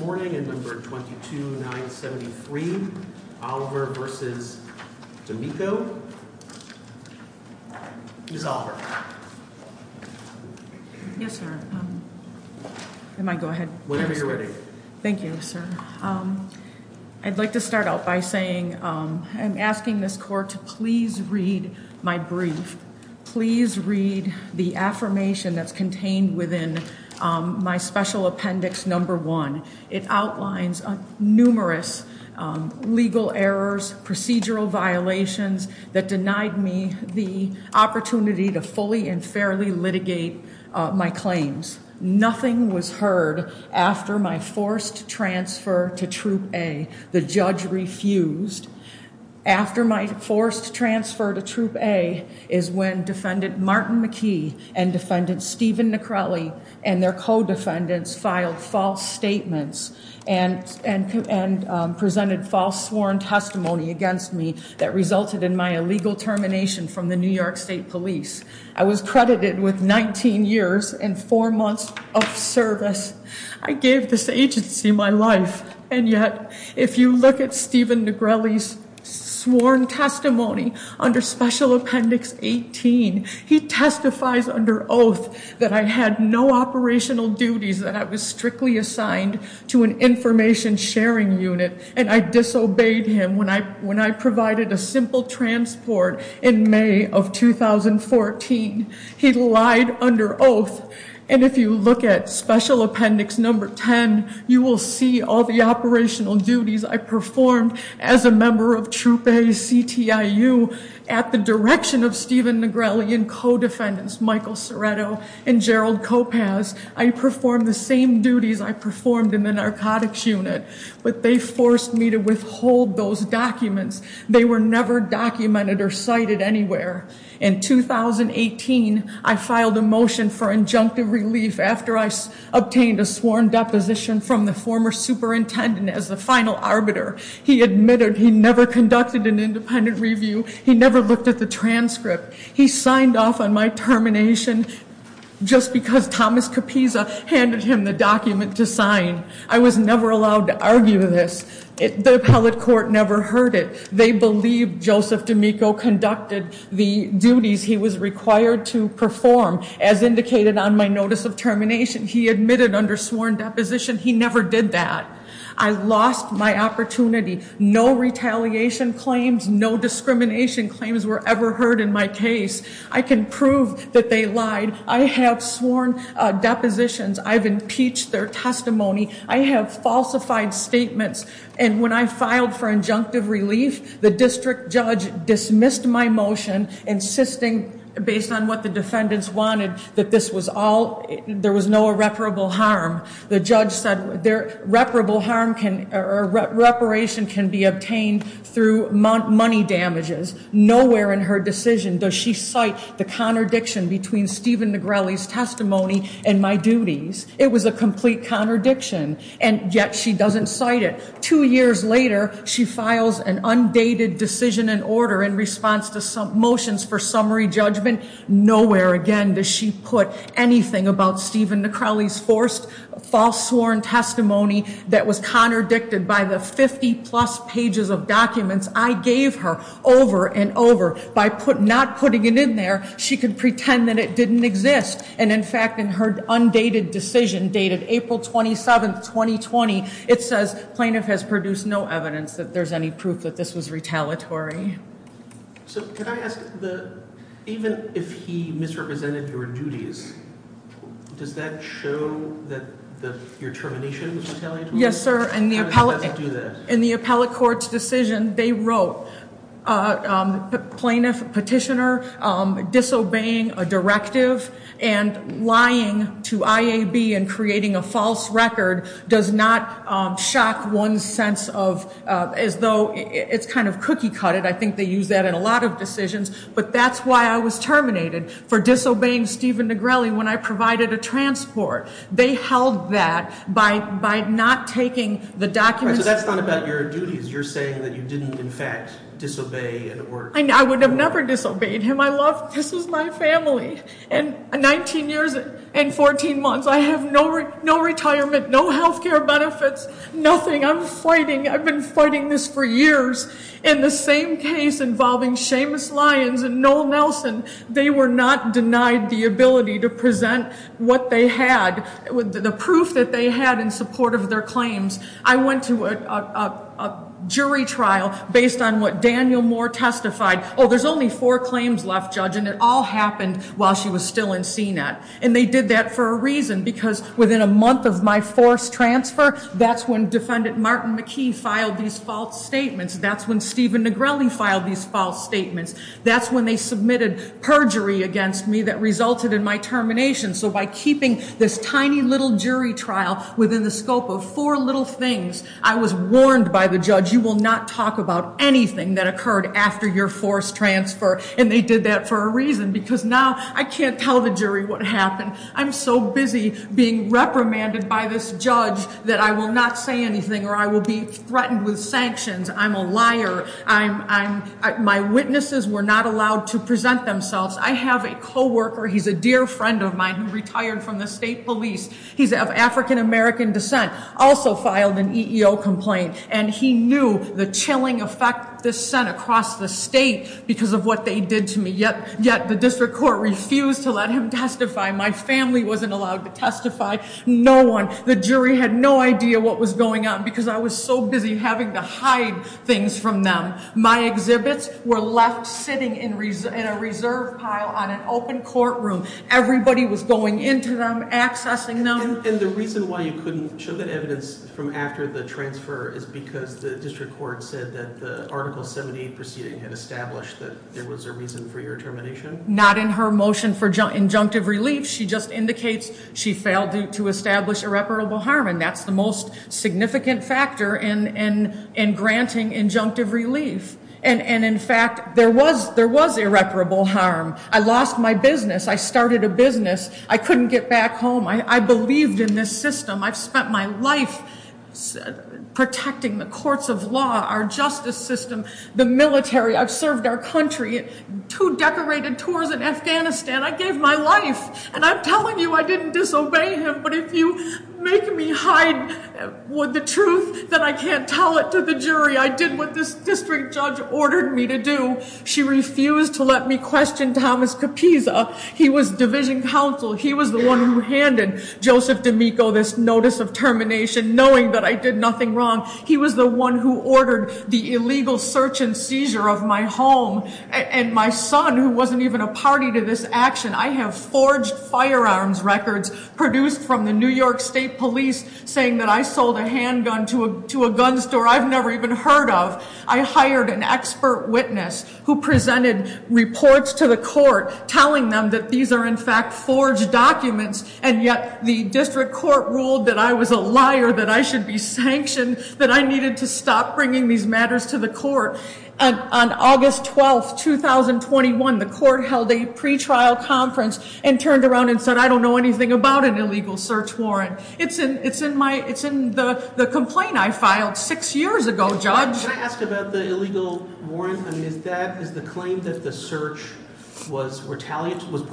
this morning in number 22973, Oliver v. D'Amico. Ms. Oliver. Yes, sir. I might go ahead. Whenever you're ready. Thank you, sir. I'd like to start out by saying I'm asking this court to please read my brief. Please read the affirmation that's contained within my special appendix number one. It outlines numerous legal errors, procedural violations that denied me the opportunity to fully and fairly litigate my claims. Nothing was heard after my forced transfer to Troop A. The judge refused. After my forced transfer to Troop A is when Defendant Martin McKee and Defendant Steven Negrelli and their co-defendants filed false statements and presented false sworn testimony against me that resulted in my illegal termination from the New York State Police. I was credited with 19 years and four months of service. I gave this agency my life. And yet, if you look at Steven Negrelli's sworn testimony under special appendix 18, he testifies under oath that I had no operational duties, that I was strictly assigned to an information sharing unit. And I disobeyed him when I provided a simple transport in May of 2014. He lied under oath. And if you look at special appendix number 10, you will see all the operational duties I performed as a member of Troop A's CTIU at the direction of Steven Negrelli and co-defendants Michael Ceretto and Gerald Kopasz. I performed the same duties I performed in the narcotics unit, but they forced me to withhold those documents. They were never documented or cited anywhere. In 2018, I filed a motion for injunctive relief after I obtained a sworn deposition from the former superintendent as the final arbiter. He admitted he never conducted an independent review. He never looked at the transcript. He signed off on my termination just because Thomas Capisa handed him the document to sign. I was never allowed to argue this. The appellate court never heard it. They believe Joseph D'Amico conducted the duties he was required to perform. As indicated on my notice of termination, he admitted under sworn deposition he never did that. I lost my opportunity. No retaliation claims, no discrimination claims were ever heard in my case. I can prove that they lied. I have sworn depositions. I've impeached their testimony. I have falsified statements. And when I filed for injunctive relief, the district judge dismissed my motion, insisting based on what the defendants wanted that this was all, there was no irreparable harm. The judge said irreparable harm or reparation can be obtained through money damages. Nowhere in her decision does she cite the contradiction between Stephen Negrelli's testimony and my duties. It was a complete contradiction, and yet she doesn't cite it. Two years later, she files an undated decision and order in response to motions for summary judgment. Nowhere again does she put anything about Stephen Negrelli's false sworn testimony that was contradicted by the 50 plus pages of documents I gave her over and over. By not putting it in there, she could pretend that it didn't exist. And in fact, in her undated decision, dated April 27th, 2020, it says plaintiff has produced no evidence that there's any proof that this was retaliatory. So could I ask, even if he misrepresented your duties, does that show that your termination was retaliatory? Yes, sir. And the appellate court's decision, they wrote plaintiff petitioner disobeying a directive and lying to IAB and creating a false record does not shock one's sense of, as though it's kind of cookie-cutted. I think they use that in a lot of decisions, but that's why I was terminated for disobeying Stephen Negrelli when I provided a transport. They held that by not taking the documents. So that's not about your duties. You're saying that you didn't, in fact, disobey an order. I would have never disobeyed him. I love, this is my family. And 19 years and 14 months, I have no retirement, no healthcare benefits, nothing. I'm fighting, I've been fighting this for years. In the same case involving Seamus Lyons and Noel Nelson, they were not denied the ability to present what they had, the proof that they had in support of their claims. I went to a jury trial based on what Daniel Moore testified. Oh, there's only four claims left, Judge, and it all happened while she was still in CNET. And they did that for a reason, because within a month of my forced transfer, that's when Defendant Martin McKee filed these false statements. That's when Stephen Negrelli filed these false statements. That's when they submitted perjury against me that resulted in my termination. So by keeping this tiny little jury trial within the scope of four little things, I was warned by the judge, you will not talk about anything that occurred after your forced transfer. And they did that for a reason, because now I can't tell the jury what happened. I'm so busy being reprimanded by this judge that I will not say anything, or I will be threatened with sanctions. I'm a liar, my witnesses were not allowed to present themselves. I have a coworker, he's a dear friend of mine who retired from the state police. He's of African-American descent, also filed an EEO complaint. And he knew the chilling effect this sent across the state because of what they did to me. Yet the district court refused to let him testify. My family wasn't allowed to testify, no one. The jury had no idea what was going on because I was so busy having to hide things from them. My exhibits were left sitting in a reserve pile on an open courtroom. Everybody was going into them, accessing them. And the reason why you couldn't show that evidence from after the transfer is because the district court said that the Article 78 proceeding had established that there was a reason for your termination? Not in her motion for injunctive relief, she just indicates she failed to establish irreparable harm, and that's the most significant factor in granting injunctive relief. And in fact, there was irreparable harm. I lost my business. I started a business. I couldn't get back home. I believed in this system. I've spent my life protecting the courts of law, our justice system, the military. I've served our country, two decorated tours in Afghanistan. I gave my life, and I'm telling you I didn't disobey him. But if you make me hide the truth, then I can't tell it to the jury. I did what this district judge ordered me to do. She refused to let me question Thomas Kapisa. He was division counsel. He was the one who handed Joseph D'Amico this notice of termination, knowing that I did nothing wrong. He was the one who ordered the illegal search and seizure of my home. And my son, who wasn't even a party to this action, I have forged firearms records produced from the New York State Police saying that I sold a handgun to a gun store I've never even heard of. I hired an expert witness who presented reports to the court telling them that these are, in fact, forged documents. And yet, the district court ruled that I was a liar, that I should be sanctioned, that I needed to stop bringing these matters to the court. And on August 12, 2021, the court held a pretrial conference and turned around and said, I don't know anything about an illegal search warrant. It's in the complaint I filed six years ago, Judge. Can I ask about the illegal warrant? I mean, is the claim that the search was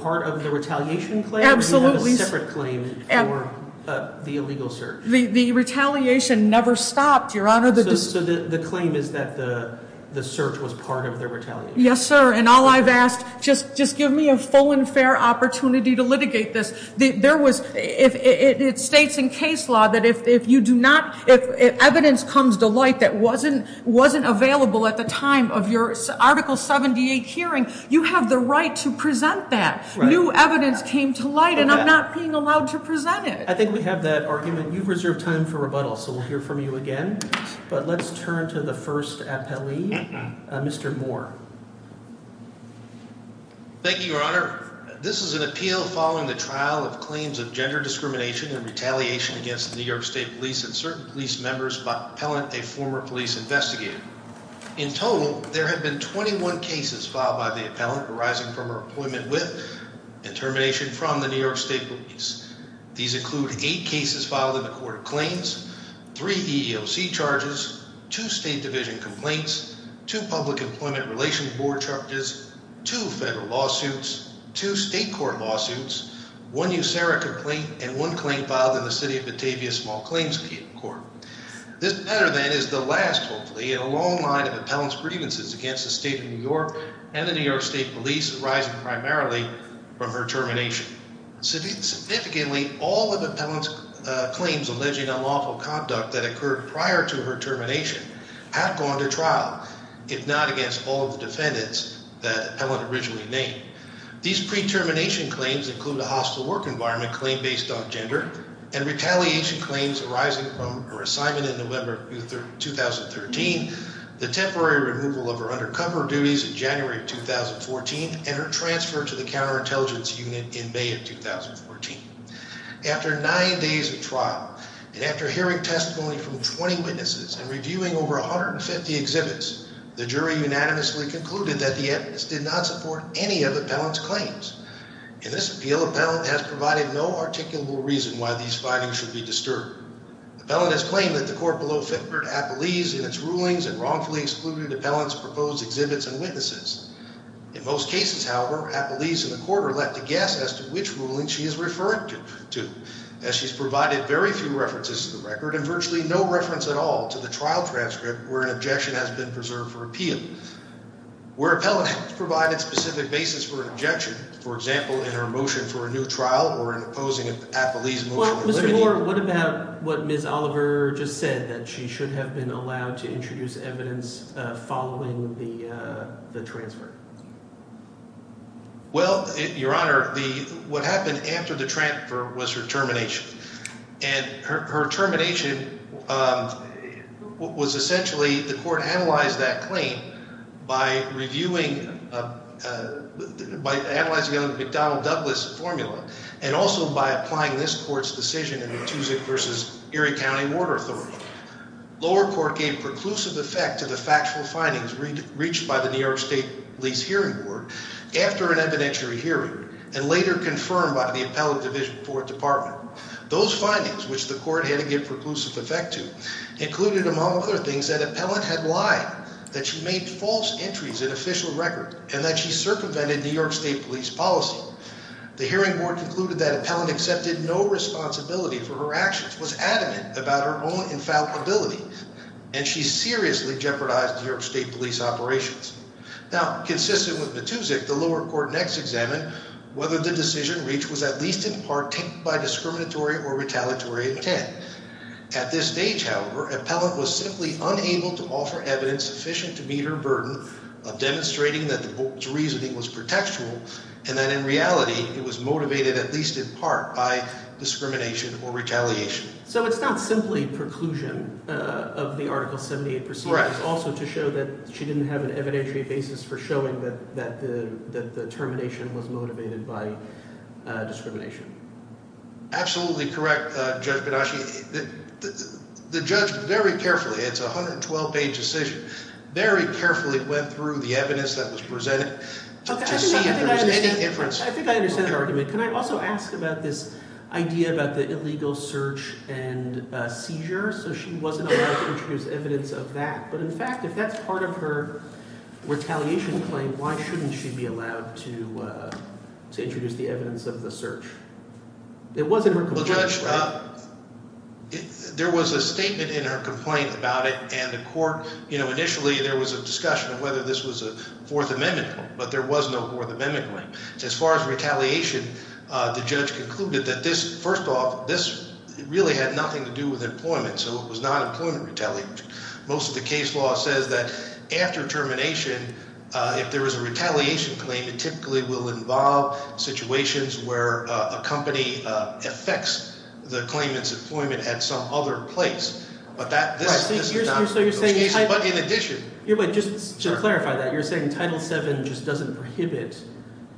part of the retaliation claim? Absolutely. Or do you have a separate claim for the illegal search? The retaliation never stopped, Your Honor. So the claim is that the search was part of the retaliation. Yes, sir. And all I've asked, just give me a full and fair opportunity to litigate this. It states in case law that if evidence comes to light that wasn't available at the time of your Article 78 hearing, you have the right to present that. New evidence came to light, and I'm not being allowed to present it. I think we have that argument. You've reserved time for rebuttal, so we'll hear from you again. But let's turn to the first appellee, Mr. Moore. Thank you, Your Honor. This is an appeal following the trial of claims of gender discrimination and retaliation against New York State police and certain police members by an appellant, a former police investigator. In total, there have been 21 cases filed by the appellant arising from her appointment with and termination from the New York State police. These include eight cases filed in the court of claims, three EEOC charges, two state division complaints, two public employment relations board charges, two federal lawsuits, two state court lawsuits, one USERRA complaint, and one claim filed in the city of Batavia Small This matter, then, is the last, hopefully, in a long line of appellant's grievances against the state of New York and the New York State police arising primarily from her termination. Significantly, all of the appellant's claims alleging unlawful conduct that occurred prior to her termination have gone to trial, if not against all of the defendants that the appellant originally named. These pre-termination claims include a hostile work environment claim based on gender and retaliation claims arising from her assignment in November 2013, the temporary removal of her undercover duties in January 2014, and her transfer to the counterintelligence unit in May of 2014. After nine days of trial, and after hearing testimony from 20 witnesses and reviewing over 150 exhibits, the jury unanimously concluded that the evidence did not support any of the appellant's claims. In this appeal, appellant has provided no articulable reason why these findings should be disturbed. The appellant has claimed that the court below fingered appellees in its rulings and wrongfully excluded appellant's proposed exhibits and witnesses. In most cases, however, appellees in the court are left to guess as to which ruling she is referring to, as she's provided very few references to the record and virtually no reference at all to the trial transcript where an objection has been preserved for appeal. Where appellant has provided specific basis for an objection, for example, in her motion for a new trial or in opposing an appellee's motion for review. Well, Mr. Moore, what about what Ms. Oliver just said, that she should have been allowed to introduce evidence following the transfer? Well, Your Honor, what happened after the transfer was her termination. And her termination was essentially the court analyzed that claim by reviewing, by analyzing it under the McDonnell-Douglas formula and also by applying this court's decision in the Tuzik versus Erie County Mortar Authority. Lower court gave preclusive effect to the factual findings reached by the New York State Lease Hearing Board after an evidentiary hearing and later confirmed by the Appellant Division 4 Department. Those findings, which the court had to give preclusive effect to, included, among other things, that appellant had lied, that she made false entries in official record, and that she circumvented New York State Police policy. The hearing board concluded that appellant accepted no responsibility for her actions, was adamant about her own infallibility, and she seriously jeopardized New York State Police operations. Now, consistent with the Tuzik, the lower court next examined whether the decision reached was at least in part taken by discriminatory or retaliatory intent. At this stage, however, appellant was simply unable to offer evidence sufficient to meet her burden of demonstrating that the court's reasoning was pretextual and that, in reality, it was motivated, at least in part, by discrimination or retaliation. So it's not simply preclusion of the Article 78 proceedings. Right. Also to show that she didn't have an evidentiary basis for showing that the termination was motivated by discrimination. Absolutely correct, Judge Benaschi. The judge very carefully, it's a 112-page decision, very carefully went through the evidence that was presented to see if there was any inference. I think I understand the argument. Can I also ask about this idea about the illegal search and seizure? So she wasn't allowed to introduce evidence of that. But in fact, if that's part of her retaliation claim, why shouldn't she be allowed to introduce the evidence of the search? It wasn't her complaint, right? Well, Judge, there was a statement in her complaint about it. And the court, initially, there was a discussion of whether this was a Fourth Amendment claim. But there was no Fourth Amendment claim. As far as retaliation, the judge concluded that this, first off, this really had nothing to do with employment. So it was not employment retaliation. Most of the case law says that after termination, if there is a retaliation claim, it typically will involve situations where a company affects the claimant's employment at some other place. But this is not an illegal case. But in addition, But just to clarify that, you're saying Title VII just doesn't prohibit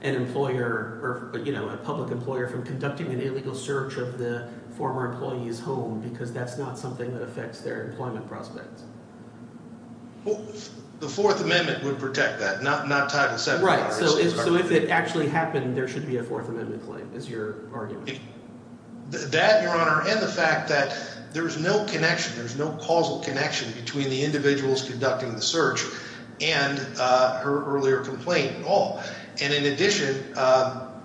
an employer, a public employer, from conducting an illegal search of the former employee's home because that's not something that affects their employment prospects? The Fourth Amendment would protect that, not Title VII. Right. So if it actually happened, there should be a Fourth Amendment claim, is your argument? That, Your Honor, and the fact that there's no connection, there's no causal connection between the individuals conducting the search and her earlier complaint at all. And in addition, again,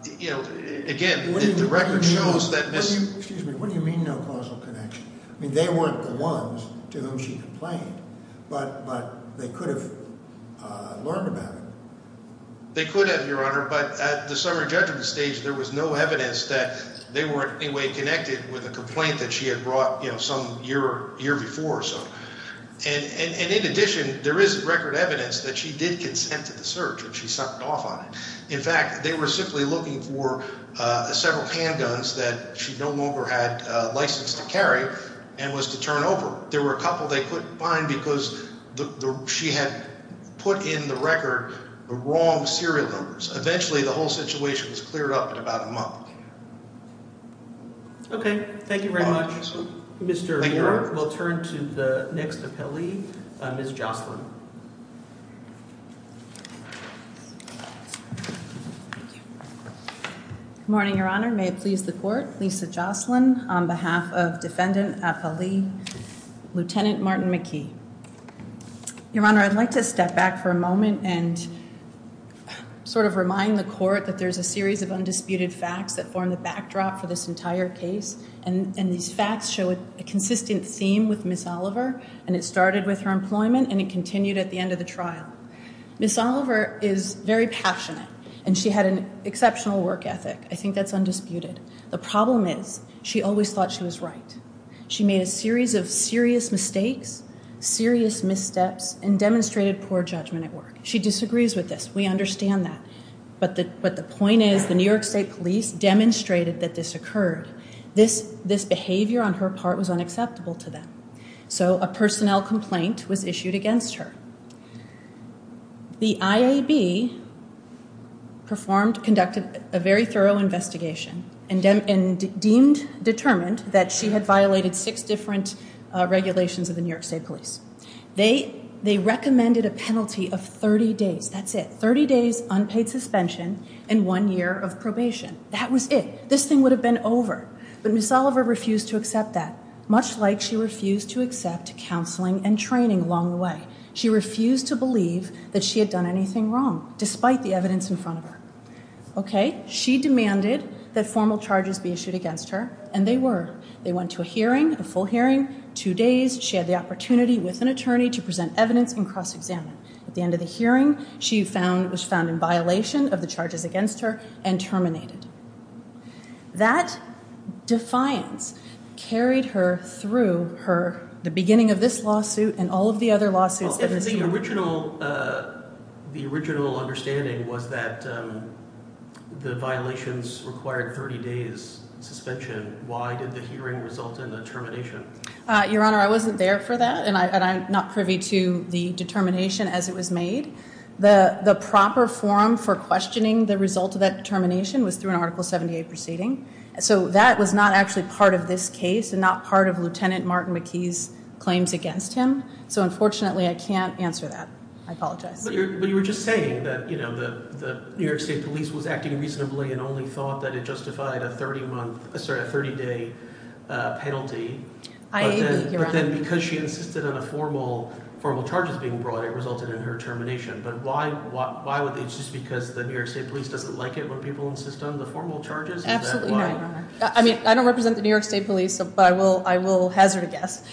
the record shows that this Excuse me. What do you mean, no causal connection? I mean, they weren't the ones to whom she complained. But they could have learned about it. They could have, Your Honor, but at the summary judgment stage, there was no evidence that they were in any way connected with a complaint that she had brought some year before or so. And in addition, there is record evidence that she did consent to the search and she sunk off on it. In fact, they were simply looking for several handguns that she no longer had license to carry and was to turn over. There were a couple they couldn't find because she had put in the record the wrong serial numbers. Eventually, the whole situation was cleared up in about a month. OK. Thank you very much, Mr. York. We'll turn to the next appellee, Ms. Jocelyn. Good morning, Your Honor. May it please the court, Lisa Jocelyn on behalf of defendant appellee, Lieutenant Martin McKee. Your Honor, I'd like to step back for a moment and sort of remind the court that there's a series of undisputed facts that form the backdrop for this entire case. And these facts show a consistent theme with Ms. Oliver, and it started with her employment and it continued at the end of the trial. Ms. Oliver is very passionate, and she had an exceptional work ethic. I think that's undisputed. The problem is she always thought she was right. She made a series of serious mistakes, serious missteps, and demonstrated poor judgment at work. She disagrees with this. We understand that. But the point is the New York State Police demonstrated that this occurred. This behavior on her part was unacceptable to them. So a personnel complaint was issued against her. The IAB conducted a very thorough investigation and determined that she had violated six different regulations of the New York State Police. They recommended a penalty of 30 days. That's it, 30 days unpaid suspension and one year of probation. That was it. This thing would have been over. But Ms. Oliver refused to accept that, much like she refused to accept counseling and training along the way. She refused to believe that she had done anything wrong, despite the evidence in front of her. She demanded that formal charges be issued against her, and they were. They went to a hearing, a full hearing, two days. She had the opportunity with an attorney to present evidence and cross-examine. At the end of the hearing, she was found in violation of the charges against her and terminated. That defiance carried her through the beginning of this lawsuit and all of the other lawsuits. Well, if the original understanding was that the violations required 30 days suspension, why did the hearing result in the termination? Your Honor, I wasn't there for that, and I'm not privy to the determination as it was made. The proper forum for questioning the result of that determination was through an Article 78 proceeding. So that was not actually part of this case and not part of Lieutenant Martin McKee's claims against him. So unfortunately, I can't answer that. I apologize. But you were just saying that the New York State Police was acting reasonably and only thought that it justified a 30-day penalty. I agree, Your Honor. But then because she insisted on the formal charges being brought, it resulted in her termination. But why would they insist? Because the New York State Police doesn't like it when people insist on the formal charges? Absolutely not, Your Honor. I mean, I don't represent the New York State Police, but I will hazard a guess.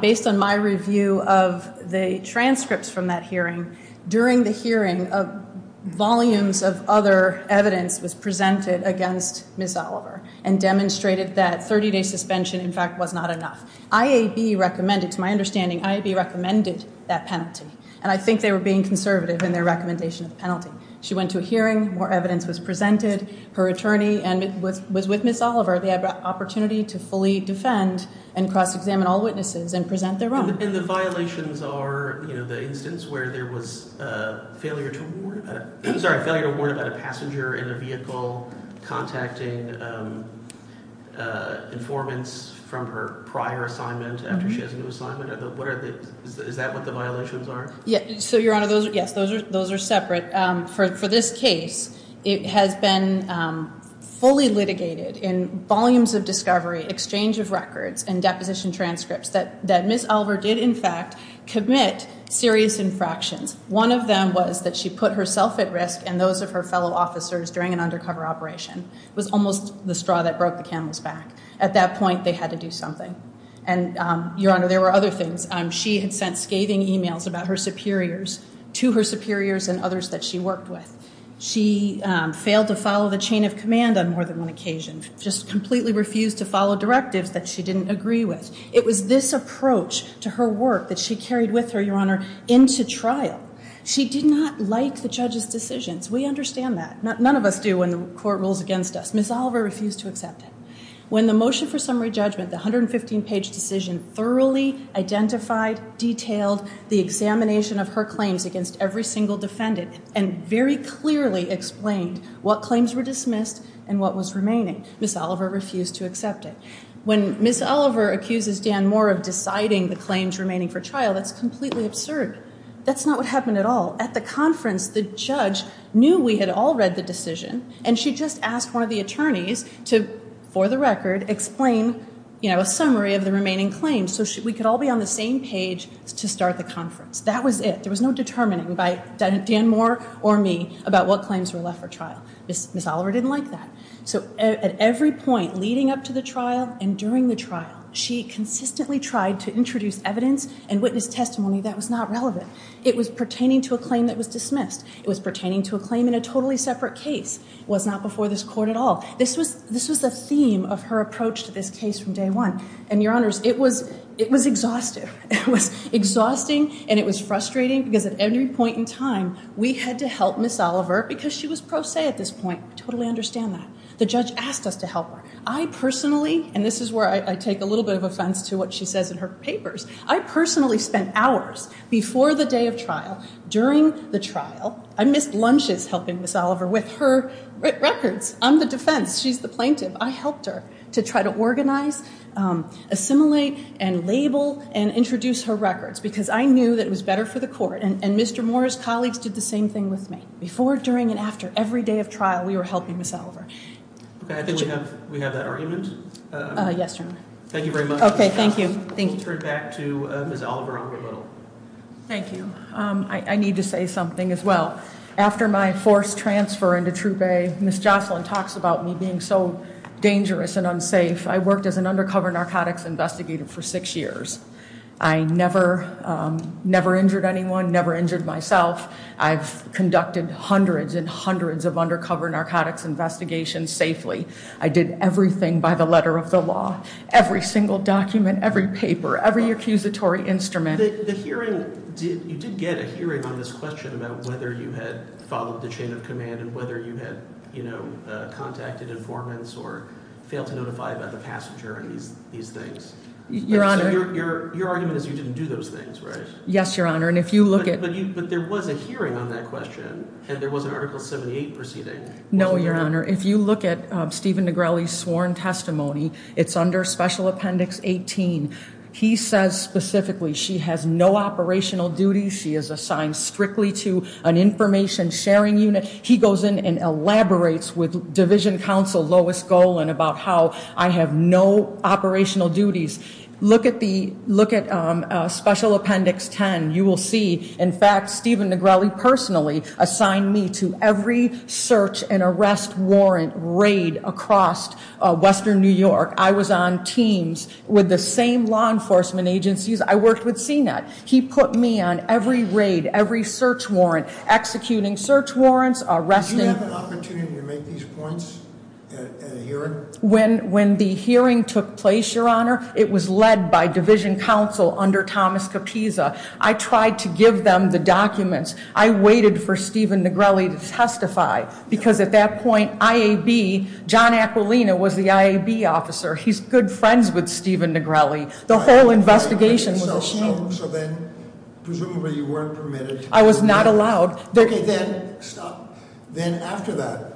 Based on my review of the transcripts from that hearing, during the hearing, volumes of other evidence was presented against Ms. Oliver and demonstrated that 30-day suspension, in fact, was not enough. IAB recommended, to my understanding, IAB recommended that penalty. And I think they were being conservative in their recommendation of the penalty. She went to a hearing. More evidence was presented. Her attorney was with Ms. Oliver. They had the opportunity to fully defend and cross-examine all witnesses and present their own. And the violations are the instance where there was failure to warn about a passenger in a vehicle contacting informants from her prior assignment after she has a new assignment? Is that what the violations are? So, Your Honor, yes, those are separate. For this case, it has been fully litigated in volumes of discovery, exchange of records, and deposition transcripts that Ms. Oliver did, in fact, commit serious infractions. One of them was that she put herself at risk and those of her fellow officers during an undercover operation. It was almost the straw that broke the camel's back. At that point, they had to do something. And, Your Honor, there were other things. She had sent scathing emails about her superiors to her superiors and others that she worked with. She failed to follow the chain of command on more than one occasion. Just completely refused to follow directives that she didn't agree with. It was this approach to her work that she carried with her, Your Honor, into trial. She did not like the judge's decisions. We understand that. None of us do when the court rules against us. Ms. Oliver refused to accept it. When the motion for summary judgment, the 115-page decision thoroughly identified, detailed the examination of her claims against every single defendant, and very clearly explained what claims were dismissed and what was remaining, Ms. Oliver refused to accept it. When Ms. Oliver accuses Dan Moore of deciding the claims remaining for trial, that's completely absurd. That's not what happened at all. At the conference, the judge knew we had all read the decision, and she just asked one of the attorneys to, for the record, explain a summary of the remaining claims so we could all be on the same page to start the conference. That was it. There was no determining by Dan Moore or me about what claims were left for trial. Ms. Oliver didn't like that. So at every point leading up to the trial and during the trial, she consistently tried to introduce evidence and witness testimony that was not relevant. It was pertaining to a claim that was dismissed. It was pertaining to a claim in a totally separate case. It was not before this court at all. This was the theme of her approach to this case from day one. And your honors, it was exhaustive. It was exhausting, and it was frustrating because at every point in time, we had to help Ms. Oliver because she was pro se at this point. I totally understand that. The judge asked us to help her. I personally, and this is where I take a little bit of offense to what she says in her papers, I personally spent hours before the day of trial, during the trial, I missed lunches helping Ms. Oliver with her records on the defense. She's the plaintiff. I helped her to try to organize, assimilate, and label and introduce her records because I knew that it was better for the court. Before, during, and after every day of trial, we were helping Ms. Oliver. Okay, I think we have that argument. Yes, your honor. Thank you very much. Okay, thank you. We'll turn back to Ms. Oliver on the middle. Thank you. I need to say something as well. After my forced transfer into Troop A, Ms. Jocelyn talks about me being so dangerous and unsafe. I worked as an undercover narcotics investigator for six years. I never, never injured anyone, never injured myself. I've conducted hundreds and hundreds of undercover narcotics investigations safely. I did everything by the letter of the law. Every single document, every paper, every accusatory instrument. The hearing, you did get a hearing on this question about whether you had followed the chain of command and whether you had contacted informants or failed to notify about the passenger and these things. Your honor. So your argument is you didn't do those things, right? Yes, your honor, and if you look at. But there was a hearing on that question and there was an article 78 proceeding. No, your honor. If you look at Stephen Negrelli's sworn testimony, it's under special appendix 18. He says specifically she has no operational duties. She is assigned strictly to an information sharing unit. He goes in and elaborates with division counsel, Lois Golan, about how I have no operational duties. Look at the, look at special appendix 10. You will see, in fact, Stephen Negrelli personally, assigned me to every search and arrest warrant raid across Western New York. I was on teams with the same law enforcement agencies. I worked with CNET. He put me on every raid, every search warrant, executing search warrants, arresting. Do you have an opportunity to make these points at a hearing? When the hearing took place, your honor, it was led by division counsel under Thomas Capisa. I tried to give them the documents. I waited for Stephen Negrelli to testify, because at that point, IAB, John Aquilina was the IAB officer. He's good friends with Stephen Negrelli. The whole investigation was a shame. So then, presumably you weren't permitted. I was not allowed. Okay, then, stop. Then after that,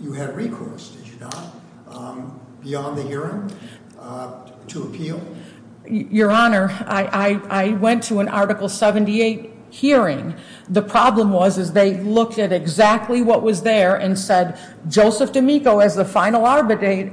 you had recourse, did you not? Beyond the hearing, to appeal? Your honor, I went to an Article 78 hearing. The problem was, is they looked at exactly what was there and said, Joseph D'Amico, as the final arbiter,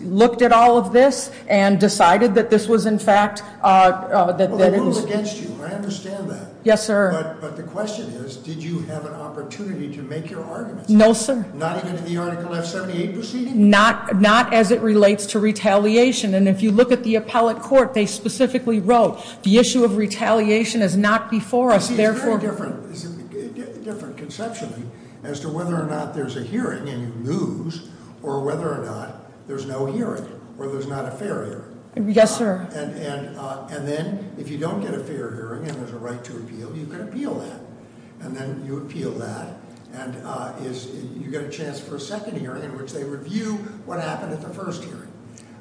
looked at all of this and decided that this was, in fact- Well, they ruled against you, I understand that. Yes, sir. But the question is, did you have an opportunity to make your arguments? No, sir. Not even in the Article F78 proceeding? Not as it relates to retaliation. And if you look at the appellate court, they specifically wrote, the issue of retaliation is not before us, therefore- It's very different, it's a different conception as to whether or not there's a hearing and you lose, or whether or not there's no hearing, or there's not a fair hearing. Yes, sir. And then, if you don't get a fair hearing and there's a right to appeal, you can appeal that. And then you appeal that, and you get a chance for a second hearing in which they review what happened at the first hearing.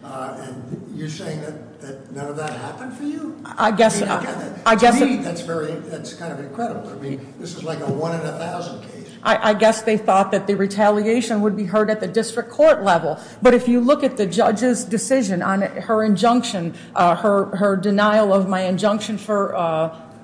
And you're saying that none of that happened for you? I guess- To me, that's kind of incredible. I mean, this is like a one in a thousand case. I guess they thought that the retaliation would be heard at the district court level. But if you look at the judge's decision on her injunction, her denial of my motion for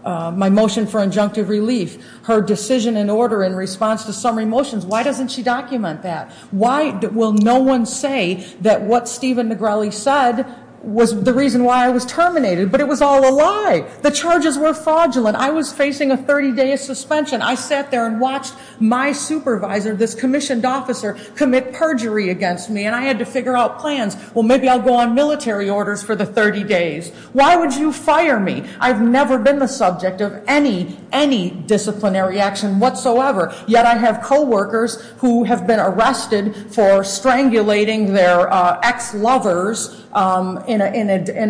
injunctive relief, her decision and order in response to summary motions, why doesn't she document that? Why will no one say that what Steven Negrelli said was the reason why I was terminated? But it was all a lie. The charges were fraudulent. I was facing a 30-day suspension. I sat there and watched my supervisor, this commissioned officer, commit perjury against me. And I had to figure out plans. Well, maybe I'll go on military orders for the 30 days. Why would you fire me? I've never been the subject of any, any disciplinary action whatsoever. Yet I have coworkers who have been arrested for strangulating their ex-lovers in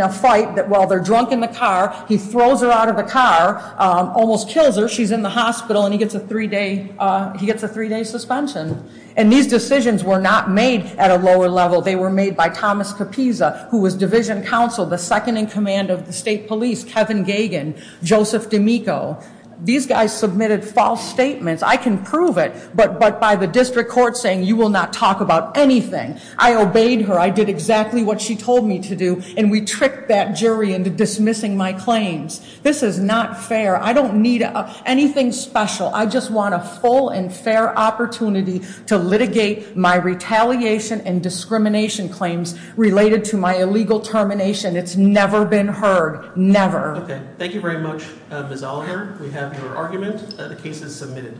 a fight that while they're drunk in the car, he throws her out of the car, almost kills her. She's in the hospital and he gets a three-day suspension. And these decisions were not made at a lower level. They were made by Thomas Capisa, who was division counsel, the second in command of the state police, Kevin Gagan, Joseph D'Amico. These guys submitted false statements. I can prove it, but by the district court saying, you will not talk about anything. I obeyed her. I did exactly what she told me to do. And we tricked that jury into dismissing my claims. This is not fair. I don't need anything special. I just want a full and fair opportunity to litigate my retaliation and discrimination claims related to my illegal termination. It's never been heard, never. Okay, thank you very much, Ms. Oliver. We have your argument. The case is submitted.